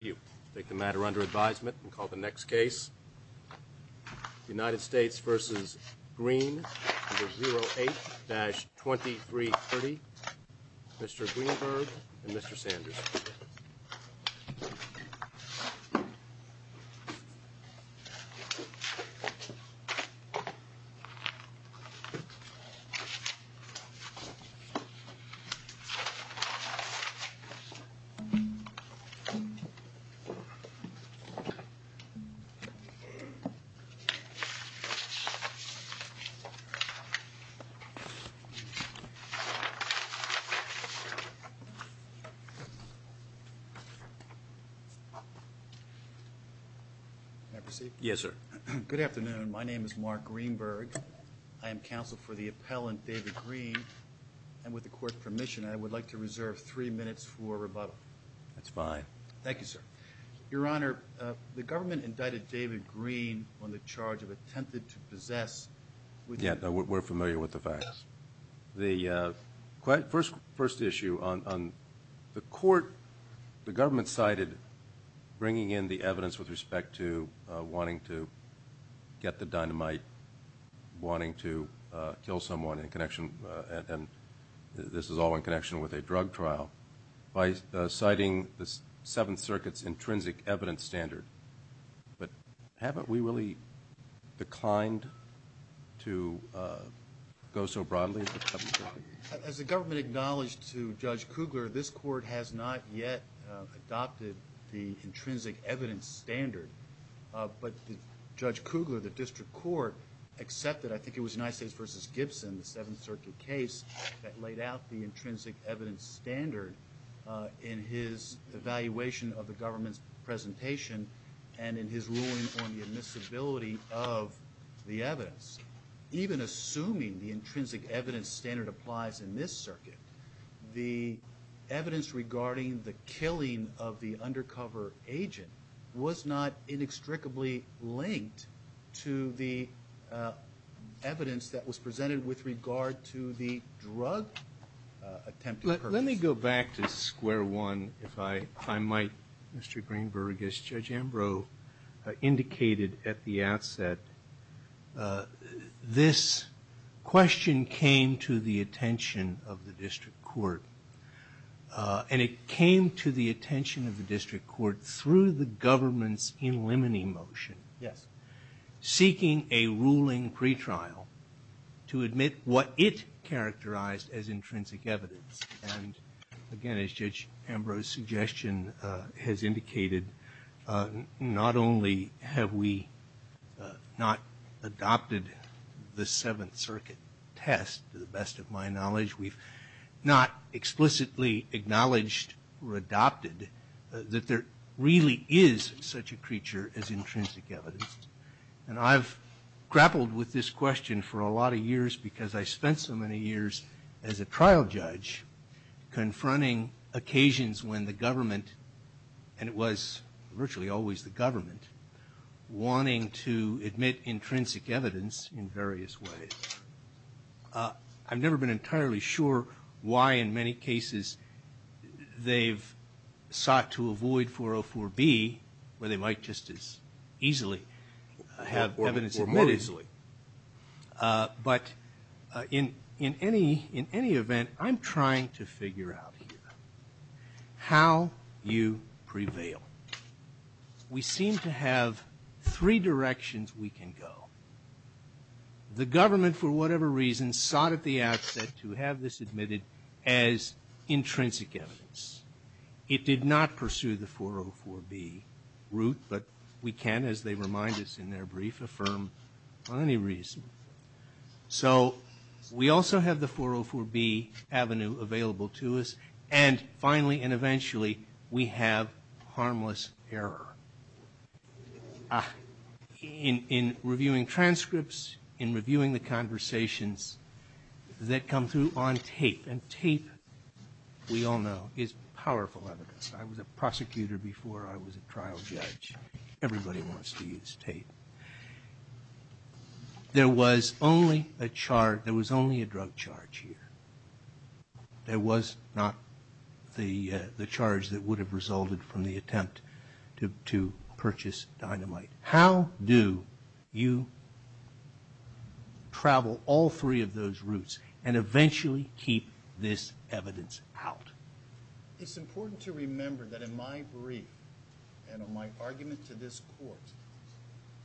You take the matter under advisement and call the next case United States vs. Green 08-2330 Mr. Greenberg and Mr. Sanders. Good afternoon. My name is Mark Greenberg. I am counsel for the appellant David Green and with the court's permission I would like to reserve three minutes for rebuttal. That's fine. Thank you sir. Your Honor, the government indicted David Green on the charge of attempted to possess. Yeah, we're familiar with the facts. The first issue on the court, the government cited bringing in the evidence with respect to wanting to get the dynamite, wanting to kill someone in connection and this is all in connection with a drug trial. By citing the Seventh Circuit's intrinsic evidence standard. But haven't we really declined to go so broadly? As the government acknowledged to Judge Kugler, this court has not yet adopted the intrinsic evidence standard. But Judge Kugler, the district court accepted, I think it was United States vs. Gibson, the Seventh Circuit case that laid out the intrinsic evidence standard in his evaluation of the government's presentation and in his ruling on the admissibility of the evidence. Even assuming the intrinsic evidence standard applies in this circuit, the evidence regarding the killing of the undercover agent was not inextricably linked to the evidence that was presented with regard to the drug attempted purchase. Let me go back to square one, if I might, Mr. Greenberg. As Judge Ambrose indicated at the outset, this question came to the attention of the district court. And it came to the attention of the district court through the government's in limine motion. Seeking a ruling pretrial to admit what it characterized as intrinsic evidence. And again, as Judge Ambrose's suggestion has indicated, not only have we not adopted the Seventh Circuit test, to the best of my knowledge, we've not explicitly acknowledged or adopted that there really is such a creature as intrinsic evidence. And I've grappled with this question for a lot of years because I spent so many years as a trial judge confronting occasions when the government, and it was virtually always the government, wanting to admit intrinsic evidence in various ways. I've never been entirely sure why in many cases they've sought to avoid 404B where they might just as easily have evidence admitted. But in any event, I'm trying to figure out how you prevail. We seem to have three directions we can go. The government, for whatever reason, sought at the outset to have this admitted as intrinsic evidence. It did not pursue the 404B route, but we can, as they remind us in their brief, affirm on any reason. So we also have the 404B avenue available to us. And finally, and eventually, we have harmless error. In reviewing transcripts, in reviewing the conversations that come through on tape, and tape, we all know, is powerful evidence. I was a prosecutor before I was a trial judge. Everybody wants to use tape. There was only a drug charge here. There was not the charge that would have resulted from the attempt to purchase dynamite. How do you travel all three of those routes and eventually keep this evidence out? It's important to remember that in my brief and on my argument to this court,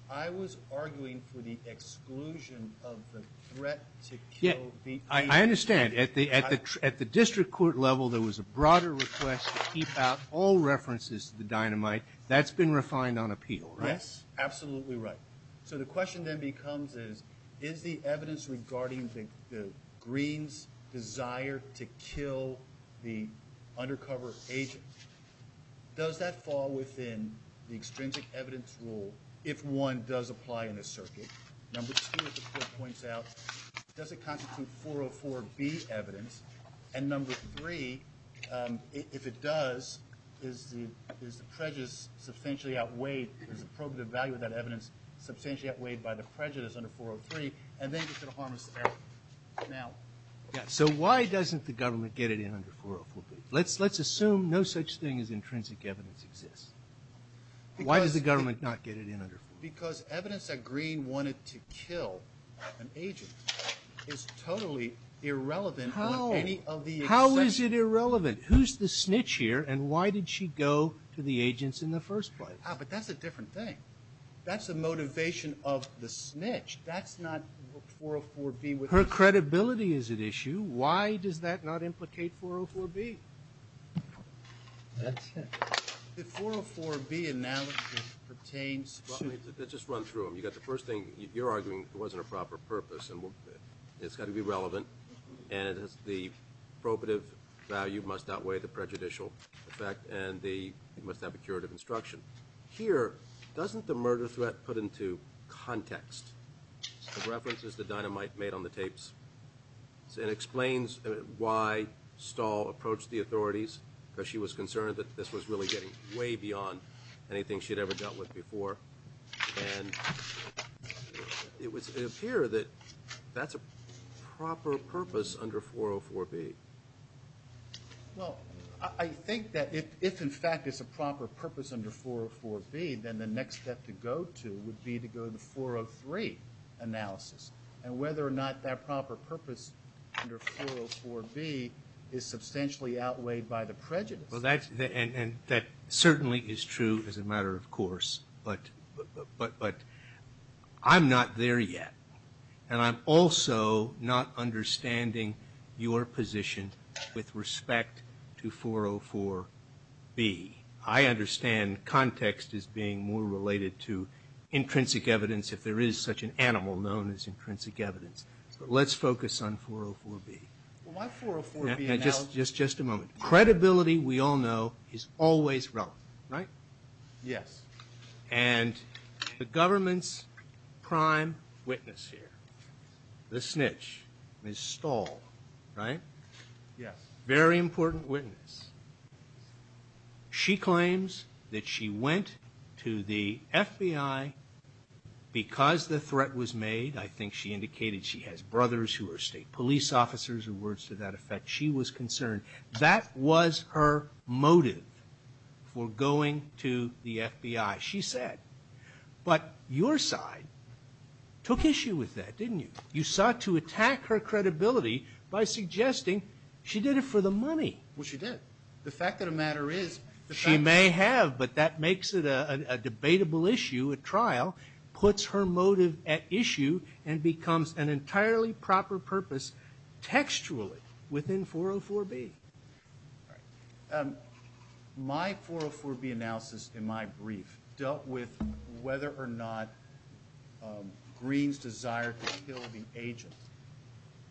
I was arguing for the exclusion of the threat to kill the agent. I understand. At the district court level, there was a broader request to keep out all references to the dynamite. That's been refined on appeal, right? Yes, absolutely right. So the question then becomes is, is the evidence regarding the Green's desire to kill the undercover agent, does that fall within the extrinsic evidence rule if one does apply in this circuit? Number two, as the court points out, does it constitute 404B evidence? And number three, if it does, is the prejudice substantially outweighed, is the probative value of that evidence substantially outweighed by the prejudice under 403, and then is it a harmless error? So why doesn't the government get it in under 404B? Let's assume no such thing as intrinsic evidence exists. Why does the government not get it in under 404B? Because evidence that Green wanted to kill an agent is totally irrelevant. How is it irrelevant? Who's the snitch here and why did she go to the agents in the first place? But that's a different thing. That's a motivation of the snitch. That's not 404B. Her credibility is at issue. Why does that not implicate 404B? The 404B analysis pertains to Let's just run through them. You got the first thing. You're arguing it wasn't a proper purpose and it's got to be relevant and the probative value must outweigh the prejudicial effect and it must have a curative instruction. Here, doesn't the murder threat put into context the references that Dynamite made on the tapes? It explains why Stahl approached the authorities because she was concerned that this was really getting way beyond anything she'd ever dealt with before. And it would appear that that's a proper purpose under 404B. Well, I think that if in fact it's a proper purpose under 404B, then the next step to go to would be to go to the 403 analysis. And whether or not that proper purpose under 404B is substantially outweighed by the prejudice. Well, that certainly is true as a matter of course, but I'm not there yet. And I'm also not understanding your position with respect to 404B. I understand context as being more related to intrinsic evidence if there is such an animal known as intrinsic evidence. But let's focus on 404B. Just a moment. Credibility, we all know, is always wrong, right? Yes. And the government's prime witness here, the snitch, Ms. Stahl, right? Yes. Very important witness. She claims that she went to the FBI because the threat was made. I think she indicated she has brothers who are state police officers or words to that effect. She was concerned. That was her motive for going to the FBI, she said. But your side took issue with that, didn't you? You sought to attack her credibility by suggesting she did it for the money. Well, she did. The fact of the matter is the fact that she did. She may have, but that makes it a debatable issue. puts her motive at issue and becomes an entirely proper purpose textually within 404B. My 404B analysis in my brief dealt with whether or not Green's desire to kill the agent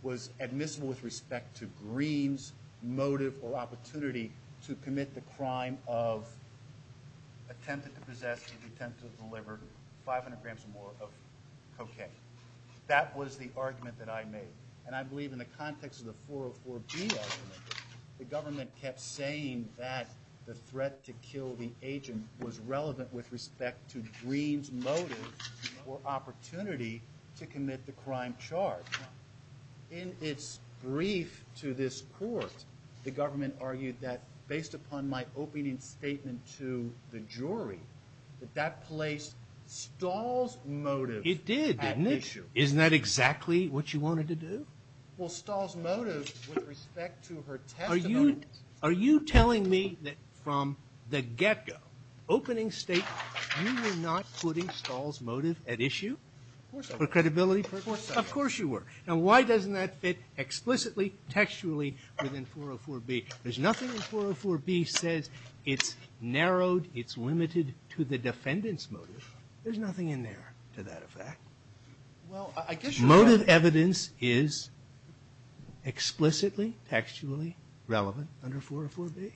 was admissible with respect to Green's motive or opportunity to commit the crime of attempted to possess and attempted to deliver 500 grams or more of cocaine. That was the argument that I made. And I believe in the context of the 404B argument, the government kept saying that the threat to kill the agent was relevant with respect to Green's motive or opportunity to commit the crime charged. In its brief to this court, the government argued that, based upon my opening statement to the jury, that that placed Stahl's motive at issue. It did, didn't it? Isn't that exactly what you wanted to do? Well, Stahl's motive with respect to her testimony. Are you telling me that from the get-go, opening statement, you were not putting Stahl's motive at issue? Of course I was. For credibility purposes? Of course you were. Now, why doesn't that fit explicitly, textually within 404B? There's nothing in 404B that says it's narrowed, it's limited to the defendant's motive. There's nothing in there to that effect. Well, I guess you're right. Motive evidence is explicitly, textually relevant under 404B?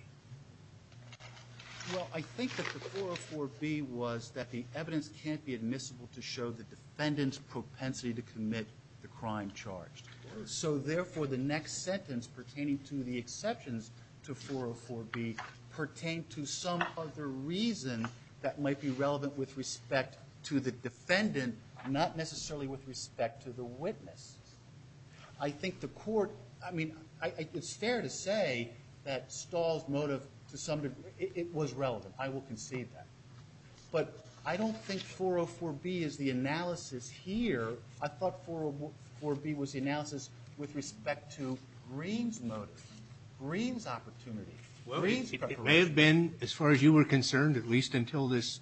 Well, I think that the 404B was that the evidence can't be admissible to show the defendant's propensity to commit the crime charged. So, therefore, the next sentence pertaining to the exceptions to 404B pertained to some other reason that might be relevant with respect to the defendant, not necessarily with respect to the witness. I think the court, I mean, it's fair to say that Stahl's motive, to some degree, it was relevant. I will concede that. But I don't think 404B is the analysis here. I thought 404B was the analysis with respect to Greene's motive, Greene's opportunity, Greene's preparation. Well, it may have been, as far as you were concerned, at least until this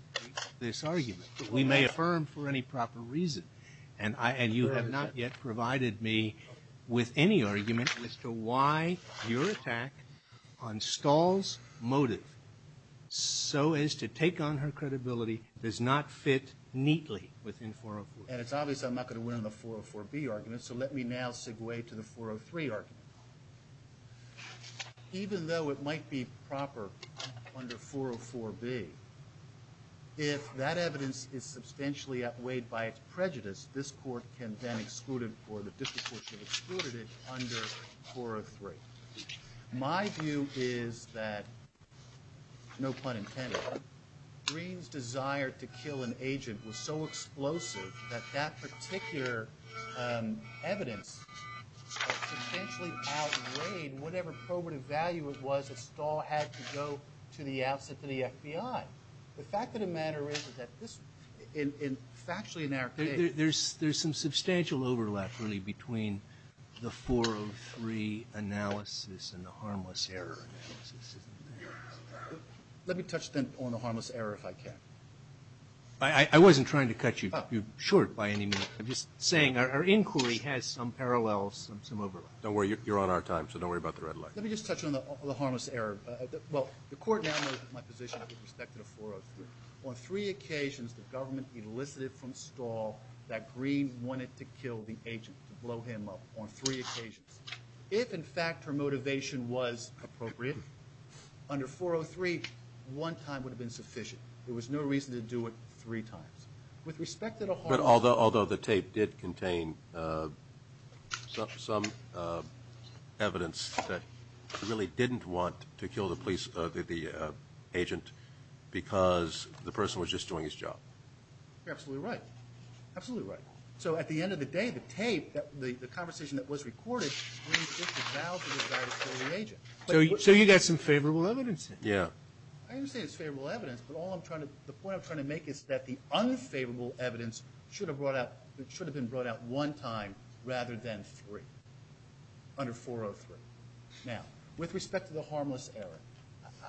argument. We may affirm for any proper reason. And you have not yet provided me with any argument as to why your attack on Stahl's motive, so as to take on her credibility, does not fit neatly within 404B. And it's obvious I'm not going to win on the 404B argument, so let me now segue to the 403 argument. Even though it might be proper under 404B, if that evidence is substantially outweighed by its prejudice, this court can then exclude it or the district court can exclude it under 403. My view is that, no pun intended, Greene's desire to kill an agent was so explosive that that particular evidence substantially outweighed whatever probative value it was that Stahl had to go to the outset to the FBI. The fact of the matter is that this, factually in our case. There's some substantial overlap really between the 403 analysis and the harmless error analysis. Let me touch then on the harmless error if I can. I wasn't trying to cut you short by any means. I'm just saying our inquiry has some parallels, some overlap. Don't worry. You're on our time, so don't worry about the red light. Let me just touch on the harmless error. Well, the court downloaded my position with respect to the 403. On three occasions, the government elicited from Stahl that Greene wanted to kill the agent, to blow him up on three occasions. If, in fact, her motivation was appropriate, under 403, one time would have been sufficient. There was no reason to do it three times. But although the tape did contain some evidence that he really didn't want to kill the agent because the person was just doing his job. You're absolutely right. Absolutely right. So at the end of the day, the tape, the conversation that was recorded, Greene did devalue the device to the agent. So you got some favorable evidence. Yeah. I understand it's favorable evidence, but the point I'm trying to make is that the unfavorable evidence should have been brought out one time rather than three, under 403. Now, with respect to the harmless error,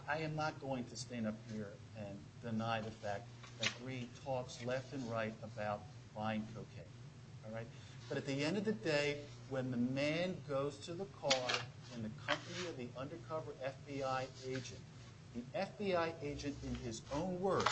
I am not going to stand up here and deny the fact that Greene talks left and right about buying cocaine. All right? But at the end of the day, when the man goes to the car and the company of the undercover FBI agent, the FBI agent, in his own words,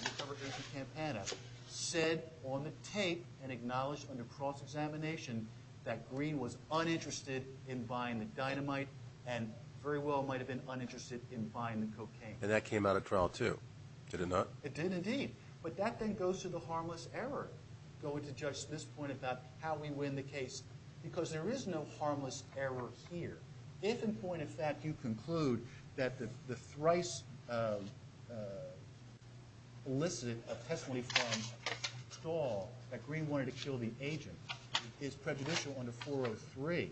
undercover agent Campana, said on the tape and acknowledged under cross-examination that Greene was uninterested in buying the dynamite and very well might have been uninterested in buying the cocaine. And that came out of trial, too. Did it not? It did, indeed. But that then goes to the harmless error, going to Judge Smith's point about how we win the case, because there is no harmless error here. If, in point of fact, you conclude that the thrice illicit testimony from Stahl that Greene wanted to kill the agent is prejudicial under 403,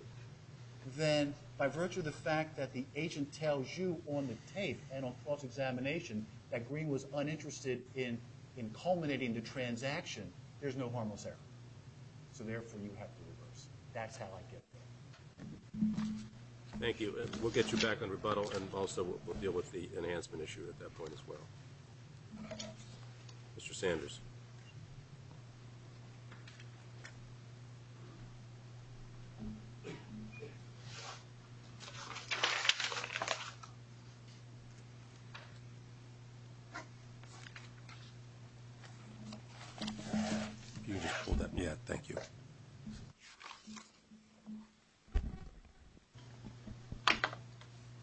then by virtue of the fact that the agent tells you on the tape and on cross-examination that Greene was uninterested in culminating the transaction, there's no harmless error. So therefore, you have to reverse. That's how I get there. Thank you. We'll get you back on rebuttal, and also we'll deal with the enhancement issue at that point as well. Mr. Sanders.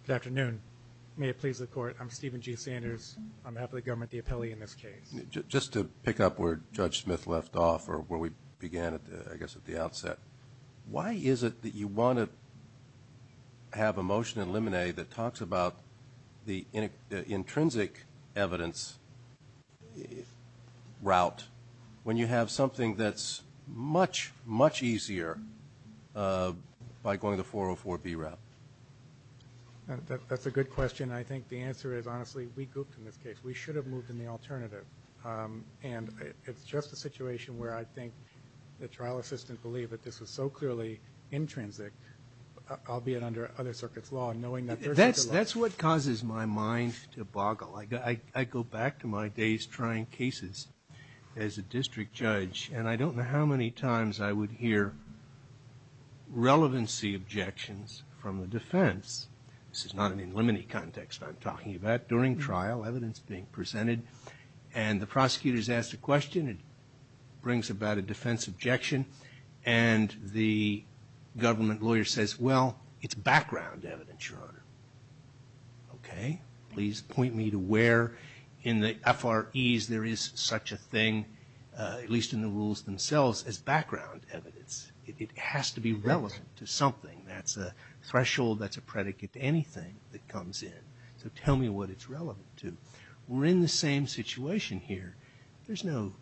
Good afternoon. May it please the Court, I'm Stephen G. Sanders. I'm half of the government, the appellee in this case. Just to pick up where Judge Smith left off or where we began, I guess, at the outset, why is it that you want to have a motion in limine that talks about the intrinsic evidence route when you have something that's much, much easier by going the 404B route? That's a good question. I think the answer is, honestly, we gooped in this case. We should have moved in the alternative. And it's just a situation where I think the trial assistant believed that this was so clearly intrinsic, albeit under other circuits' law, knowing that there's a good law. That's what causes my mind to boggle. I go back to my days trying cases as a district judge, and I don't know how many times I would hear relevancy objections from the defense. This is not an in limine context I'm talking about. During trial, evidence is being presented, and the prosecutor is asked a question. It brings about a defense objection, and the government lawyer says, well, it's background evidence, Your Honor. Okay? Please point me to where in the FREs there is such a thing, at least in the rules themselves, as background evidence. It has to be relevant to something. That's a threshold, that's a predicate to anything that comes in. So tell me what it's relevant to. We're in the same situation here. There's no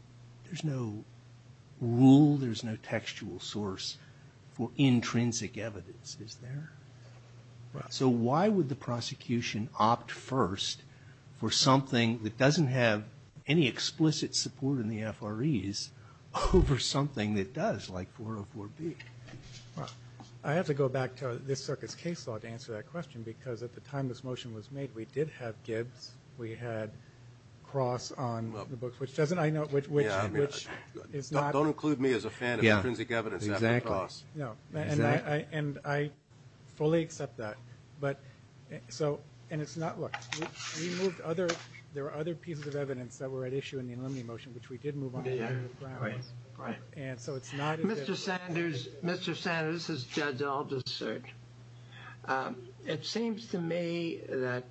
rule, there's no textual source for intrinsic evidence, is there? So why would the prosecution opt first for something that doesn't have any explicit support in the FREs over something that does, like 404B? Well, I have to go back to this Circus case law to answer that question, because at the time this motion was made, we did have Gibbs. We had Cross on the books, which doesn't I know, which is not. Don't include me as a fan of intrinsic evidence. Exactly. No, and I fully accept that. But so, and it's not, look, we moved other, there are other pieces of evidence that were at issue in the in limine motion, which we did move on to the grounds. Right, right. Mr. Sanders, Mr. Sanders, this is Judge Alderson. It seems to me that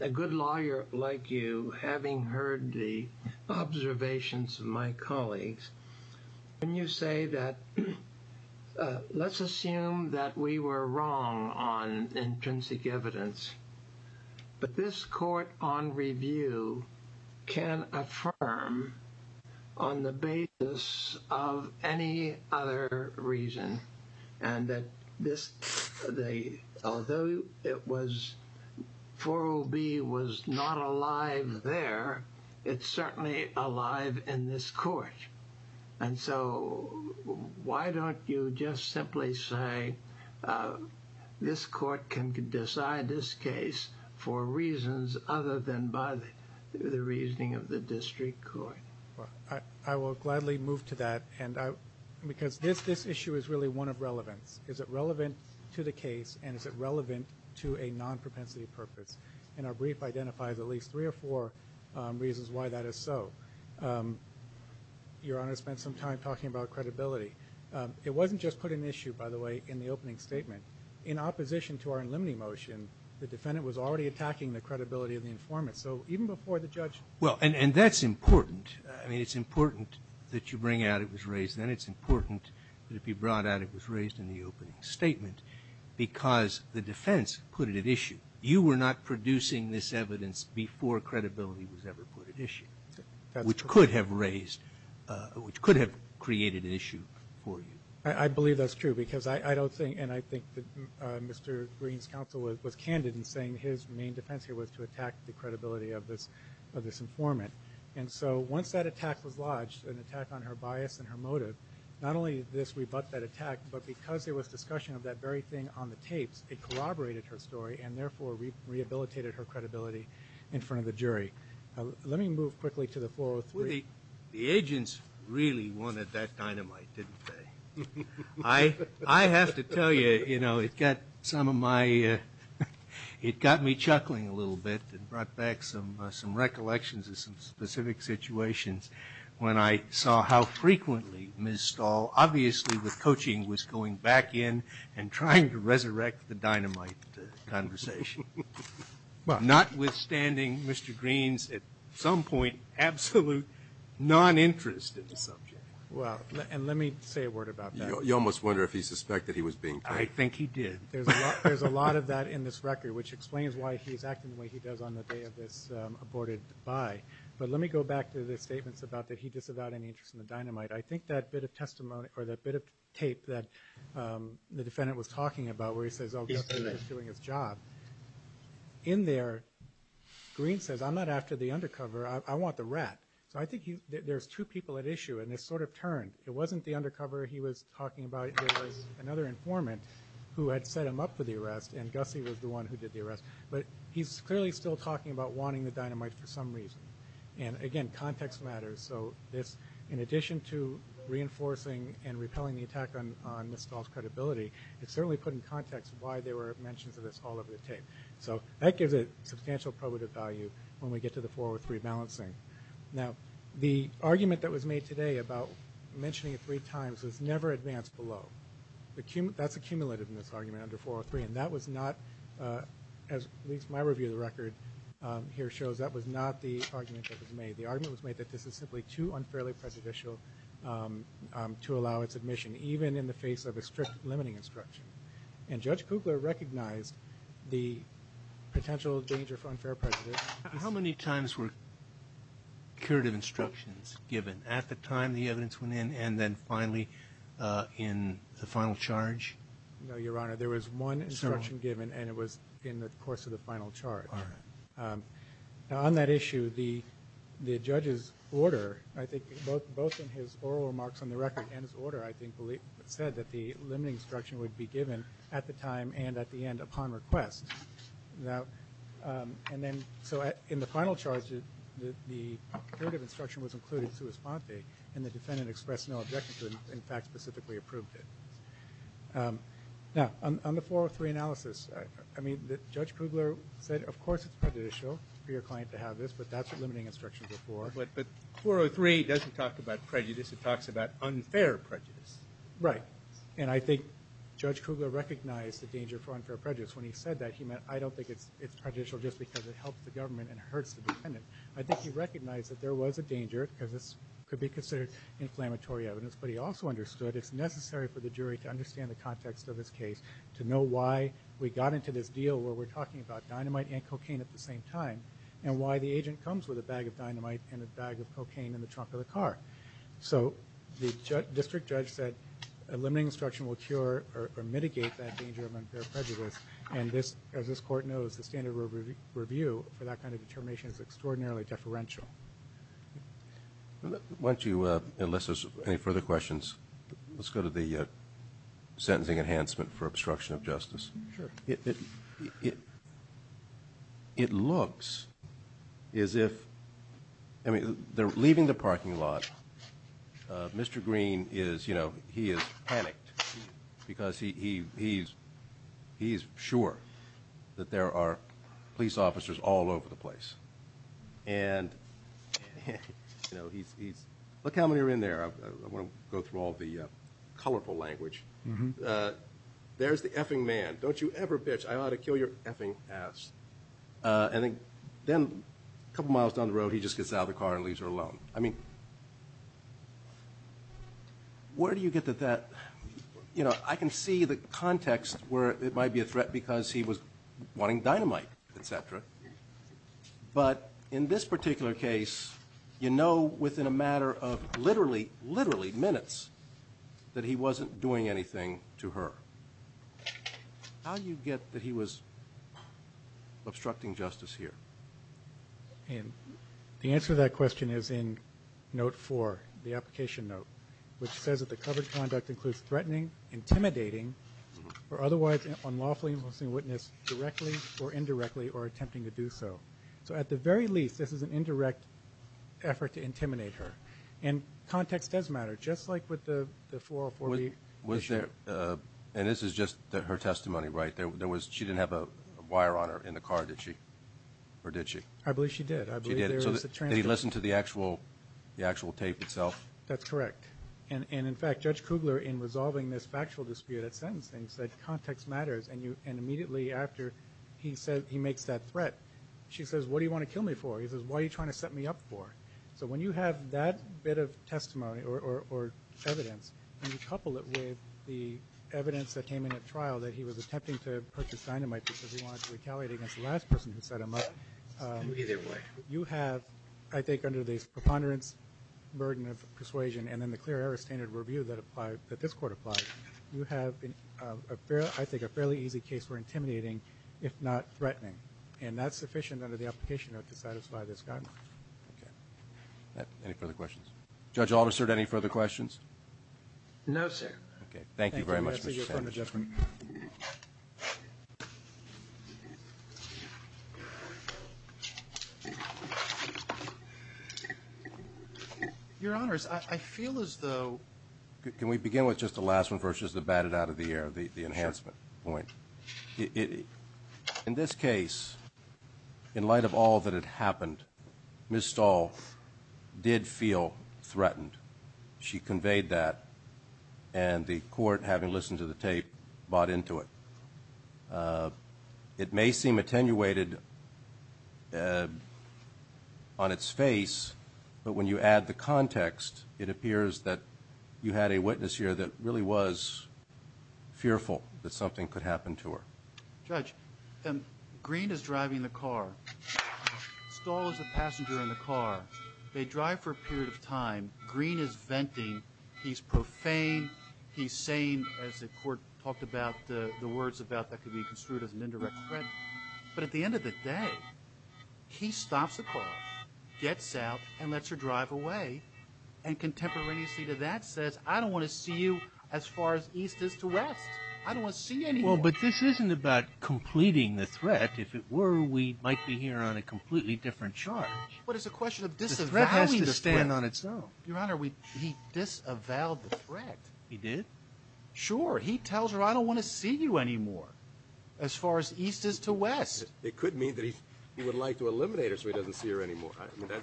a good lawyer like you, having heard the observations of my colleagues, when you say that let's assume that we were wrong on intrinsic evidence, but this court on review can affirm on the basis of any other reason, and that this, although it was, 404B was not alive there, it's certainly alive in this court. And so why don't you just simply say this court can decide this case for reasons other than by the reasoning of the district court? I will gladly move to that, because this issue is really one of relevance. Is it relevant to the case, and is it relevant to a non-propensity purpose? And our brief identifies at least three or four reasons why that is so. Your Honor spent some time talking about credibility. It wasn't just put in issue, by the way, in the opening statement. In opposition to our in limine motion, the defendant was already attacking the credibility of the informant. So even before the judge ---- Well, and that's important. I mean, it's important that you bring out it was raised then. It's important that it be brought out it was raised in the opening statement, because the defense put it at issue. You were not producing this evidence before credibility was ever put at issue. That's correct. Which could have raised, which could have created an issue for you. I believe that's true, because I don't think, and I think that Mr. Green's counsel was candid in saying his main defense here was to attack the credibility of this informant. And so once that attack was lodged, an attack on her bias and her motive, not only did this rebut that attack, but because there was discussion of that very thing on the tapes, it corroborated her story and therefore rehabilitated her credibility in front of the jury. Let me move quickly to the 403. Well, the agents really wanted that dynamite, didn't they? I have to tell you, you know, it got some of my ---- it got me chuckling a little bit and brought back some recollections of some specific situations. When I saw how frequently Ms. Stahl, obviously with coaching, was going back in and trying to resurrect the dynamite conversation. Notwithstanding Mr. Green's, at some point, absolute noninterest in the subject. Well, and let me say a word about that. You almost wonder if he suspected he was being played. I think he did. There's a lot of that in this record, which explains why he's acting the way he does on the day of this aborted buy. But let me go back to the statements about that he disavowed any interest in the dynamite. I think that bit of testimony or that bit of tape that the defendant was talking about where he says, oh, Gussie is just doing his job. In there, Green says, I'm not after the undercover. I want the rat. So I think there's two people at issue, and it's sort of turned. It wasn't the undercover he was talking about. It was another informant who had set him up for the arrest, and Gussie was the one who did the arrest. But he's clearly still talking about wanting the dynamite for some reason. And, again, context matters. So this, in addition to reinforcing and repelling the attack on Ms. Stahl's credibility, it certainly put in context why there were mentions of this all over the tape. So that gives it substantial probative value when we get to the 403 balancing. Now, the argument that was made today about mentioning it three times was never advanced below. That's accumulated in this argument under 403. And that was not, as at least my review of the record here shows, that was not the argument that was made. The argument was made that this is simply too unfairly prejudicial to allow its admission, even in the face of a strict limiting instruction. And Judge Kugler recognized the potential danger for unfair prejudice. How many times were curative instructions given at the time the evidence went in and then finally in the final charge? No, Your Honor. There was one instruction given, and it was in the course of the final charge. All right. Now, on that issue, the judge's order, I think both in his oral remarks on the record and his order I think said that the limiting instruction would be given at the time and at the end upon request. And then so in the final charge, the curative instruction was included to his font date, and the defendant expressed no objection to it and, in fact, specifically approved it. Now, on the 403 analysis, I mean, Judge Kugler said, of course, it's prejudicial for your client to have this, but that's a limiting instruction before. But 403 doesn't talk about prejudice. It talks about unfair prejudice. Right. And I think Judge Kugler recognized the danger for unfair prejudice. When he said that, he meant I don't think it's prejudicial just because it helps the government and hurts the defendant. I think he recognized that there was a danger because this could be considered inflammatory evidence, but he also understood it's necessary for the jury to understand the context of this case, to know why we got into this deal where we're talking about dynamite and cocaine at the same time and why the agent comes with a bag of dynamite and a bag of cocaine in the trunk of the car. So the district judge said a limiting instruction will cure or mitigate that danger of unfair prejudice, and as this Court knows, the standard review for that kind of determination is extraordinarily deferential. Why don't you, unless there's any further questions, let's go to the sentencing enhancement for obstruction of justice. Sure. It looks as if, I mean, they're leaving the parking lot. Mr. Green is, you know, he is panicked because he's sure that there are police officers all over the place. And, you know, he's, look how many are in there. I want to go through all the colorful language. There's the effing man. Don't you ever bitch. I ought to kill your effing ass. And then a couple miles down the road, he just gets out of the car and leaves her alone. I mean, where do you get to that? You know, I can see the context where it might be a threat because he was wanting dynamite, et cetera. But in this particular case, you know within a matter of literally, literally minutes that he wasn't doing anything to her. How do you get that he was obstructing justice here? And the answer to that question is in note four, the application note, which says that the covered conduct includes threatening, intimidating, or otherwise unlawfully imposing witness directly or indirectly or attempting to do so. So at the very least, this is an indirect effort to intimidate her. And context does matter, just like with the 404B issue. And this is just her testimony, right? She didn't have a wire on her in the car, did she? Or did she? I believe she did. She did. So did he listen to the actual tape itself? That's correct. And, in fact, Judge Kugler, in resolving this factual dispute at sentencing, said context matters. And immediately after he makes that threat, she says, what do you want to kill me for? He says, why are you trying to set me up for? So when you have that bit of testimony or evidence, and you couple it with the evidence that came in at trial that he was attempting to purchase dynamite because he wanted to retaliate against the last person who set him up. Either way. You have, I think, under the preponderance, burden of persuasion, and then the clear error standard review that this Court applied, you have, I think, a fairly easy case for intimidating, if not threatening. And that's sufficient under the application note to satisfy this guideline. Okay. Any further questions? Judge Alderson, any further questions? No, sir. Okay. Thank you very much, Mr. Sandberg. Your Honors, I feel as though... Can we begin with just the last one first, just to bat it out of the air, the enhancement point? Sure. In this case, in light of all that had happened, Ms. Stahl did feel threatened. She conveyed that, and the Court, having listened to the tape, bought into it. It may seem attenuated on its face, but when you add the context, it appears that you had a witness here that really was fearful that something could happen to her. Judge, Green is driving the car. Stahl is the passenger in the car. They drive for a period of time. Green is venting. He's profane. He's sane, as the Court talked about, the words about that could be construed as an indirect threat. But at the end of the day, he stops the car, gets out, and lets her drive away, and contemporaneously to that says, I don't want to see you as far as east is to west. I don't want to see you anymore. Well, but this isn't about completing the threat. If it were, we might be here on a completely different charge. But it's a question of disavowing the threat. The threat has to stand on its own. Your Honor, he disavowed the threat. He did? Sure. He tells her, I don't want to see you anymore as far as east is to west. It could mean that he would like to eliminate her so he doesn't see her anymore.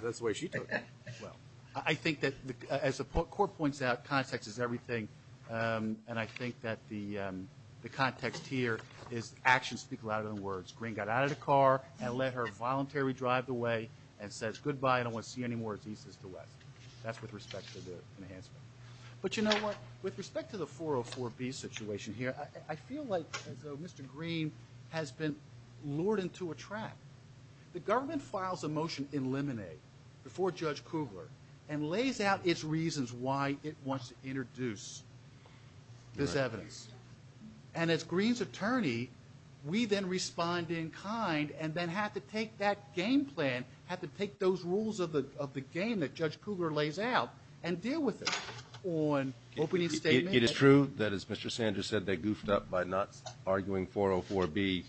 That's the way she took it. Well, I think that as the Court points out, context is everything, and I think that the context here is actions speak louder than words. Green got out of the car and let her voluntarily drive away and says, goodbye, I don't want to see you anymore as east is to west. That's with respect to the enhancement. But you know what? With respect to the 404B situation here, I feel like Mr. Green has been lured into a trap. The government files a motion in limine before Judge Kugler and lays out its reasons why it wants to introduce this evidence. And as Green's attorney, we then respond in kind and then have to take that game plan, have to take those rules of the game that Judge Kugler lays out and deal with it on opening statement. It is true that, as Mr. Sanders said, they goofed up by not arguing 404B.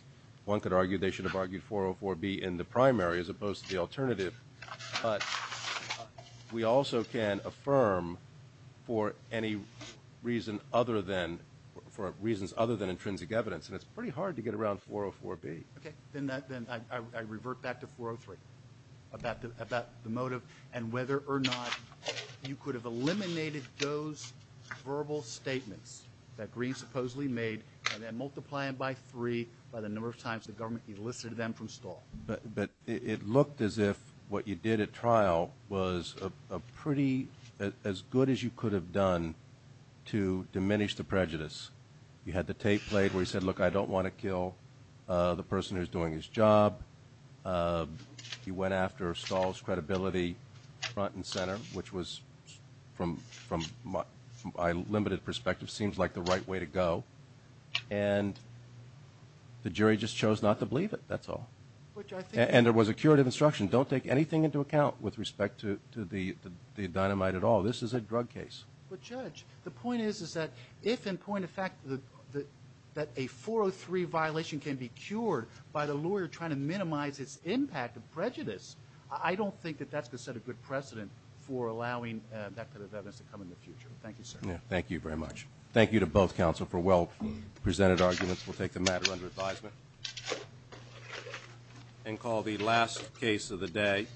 One could argue they should have argued 404B in the primary as opposed to the alternative. But we also can affirm for any reason other than intrinsic evidence, and it's pretty hard to get around 404B. Okay. Then I revert back to 403 about the motive and whether or not you could have eliminated those verbal statements that Green supposedly made and then multiply them by three by the number of times the government elicited them from Stahl. But it looked as if what you did at trial was pretty as good as you could have done to diminish the prejudice. You had the tape played where he said, look, I don't want to kill the person who's doing his job. He went after Stahl's credibility front and center, which was, from my limited perspective, seems like the right way to go. And the jury just chose not to believe it. That's all. And there was a curative instruction. Don't take anything into account with respect to the dynamite at all. This is a drug case. But, Judge, the point is that if, in point of fact, that a 403 violation can be cured by the lawyer trying to minimize its impact of prejudice, I don't think that that's going to set a good precedent for allowing that kind of evidence to come in the future. Thank you, sir. Thank you very much. Thank you to both counsel for well-presented arguments. We'll take the matter under advisement and call the last case of the day.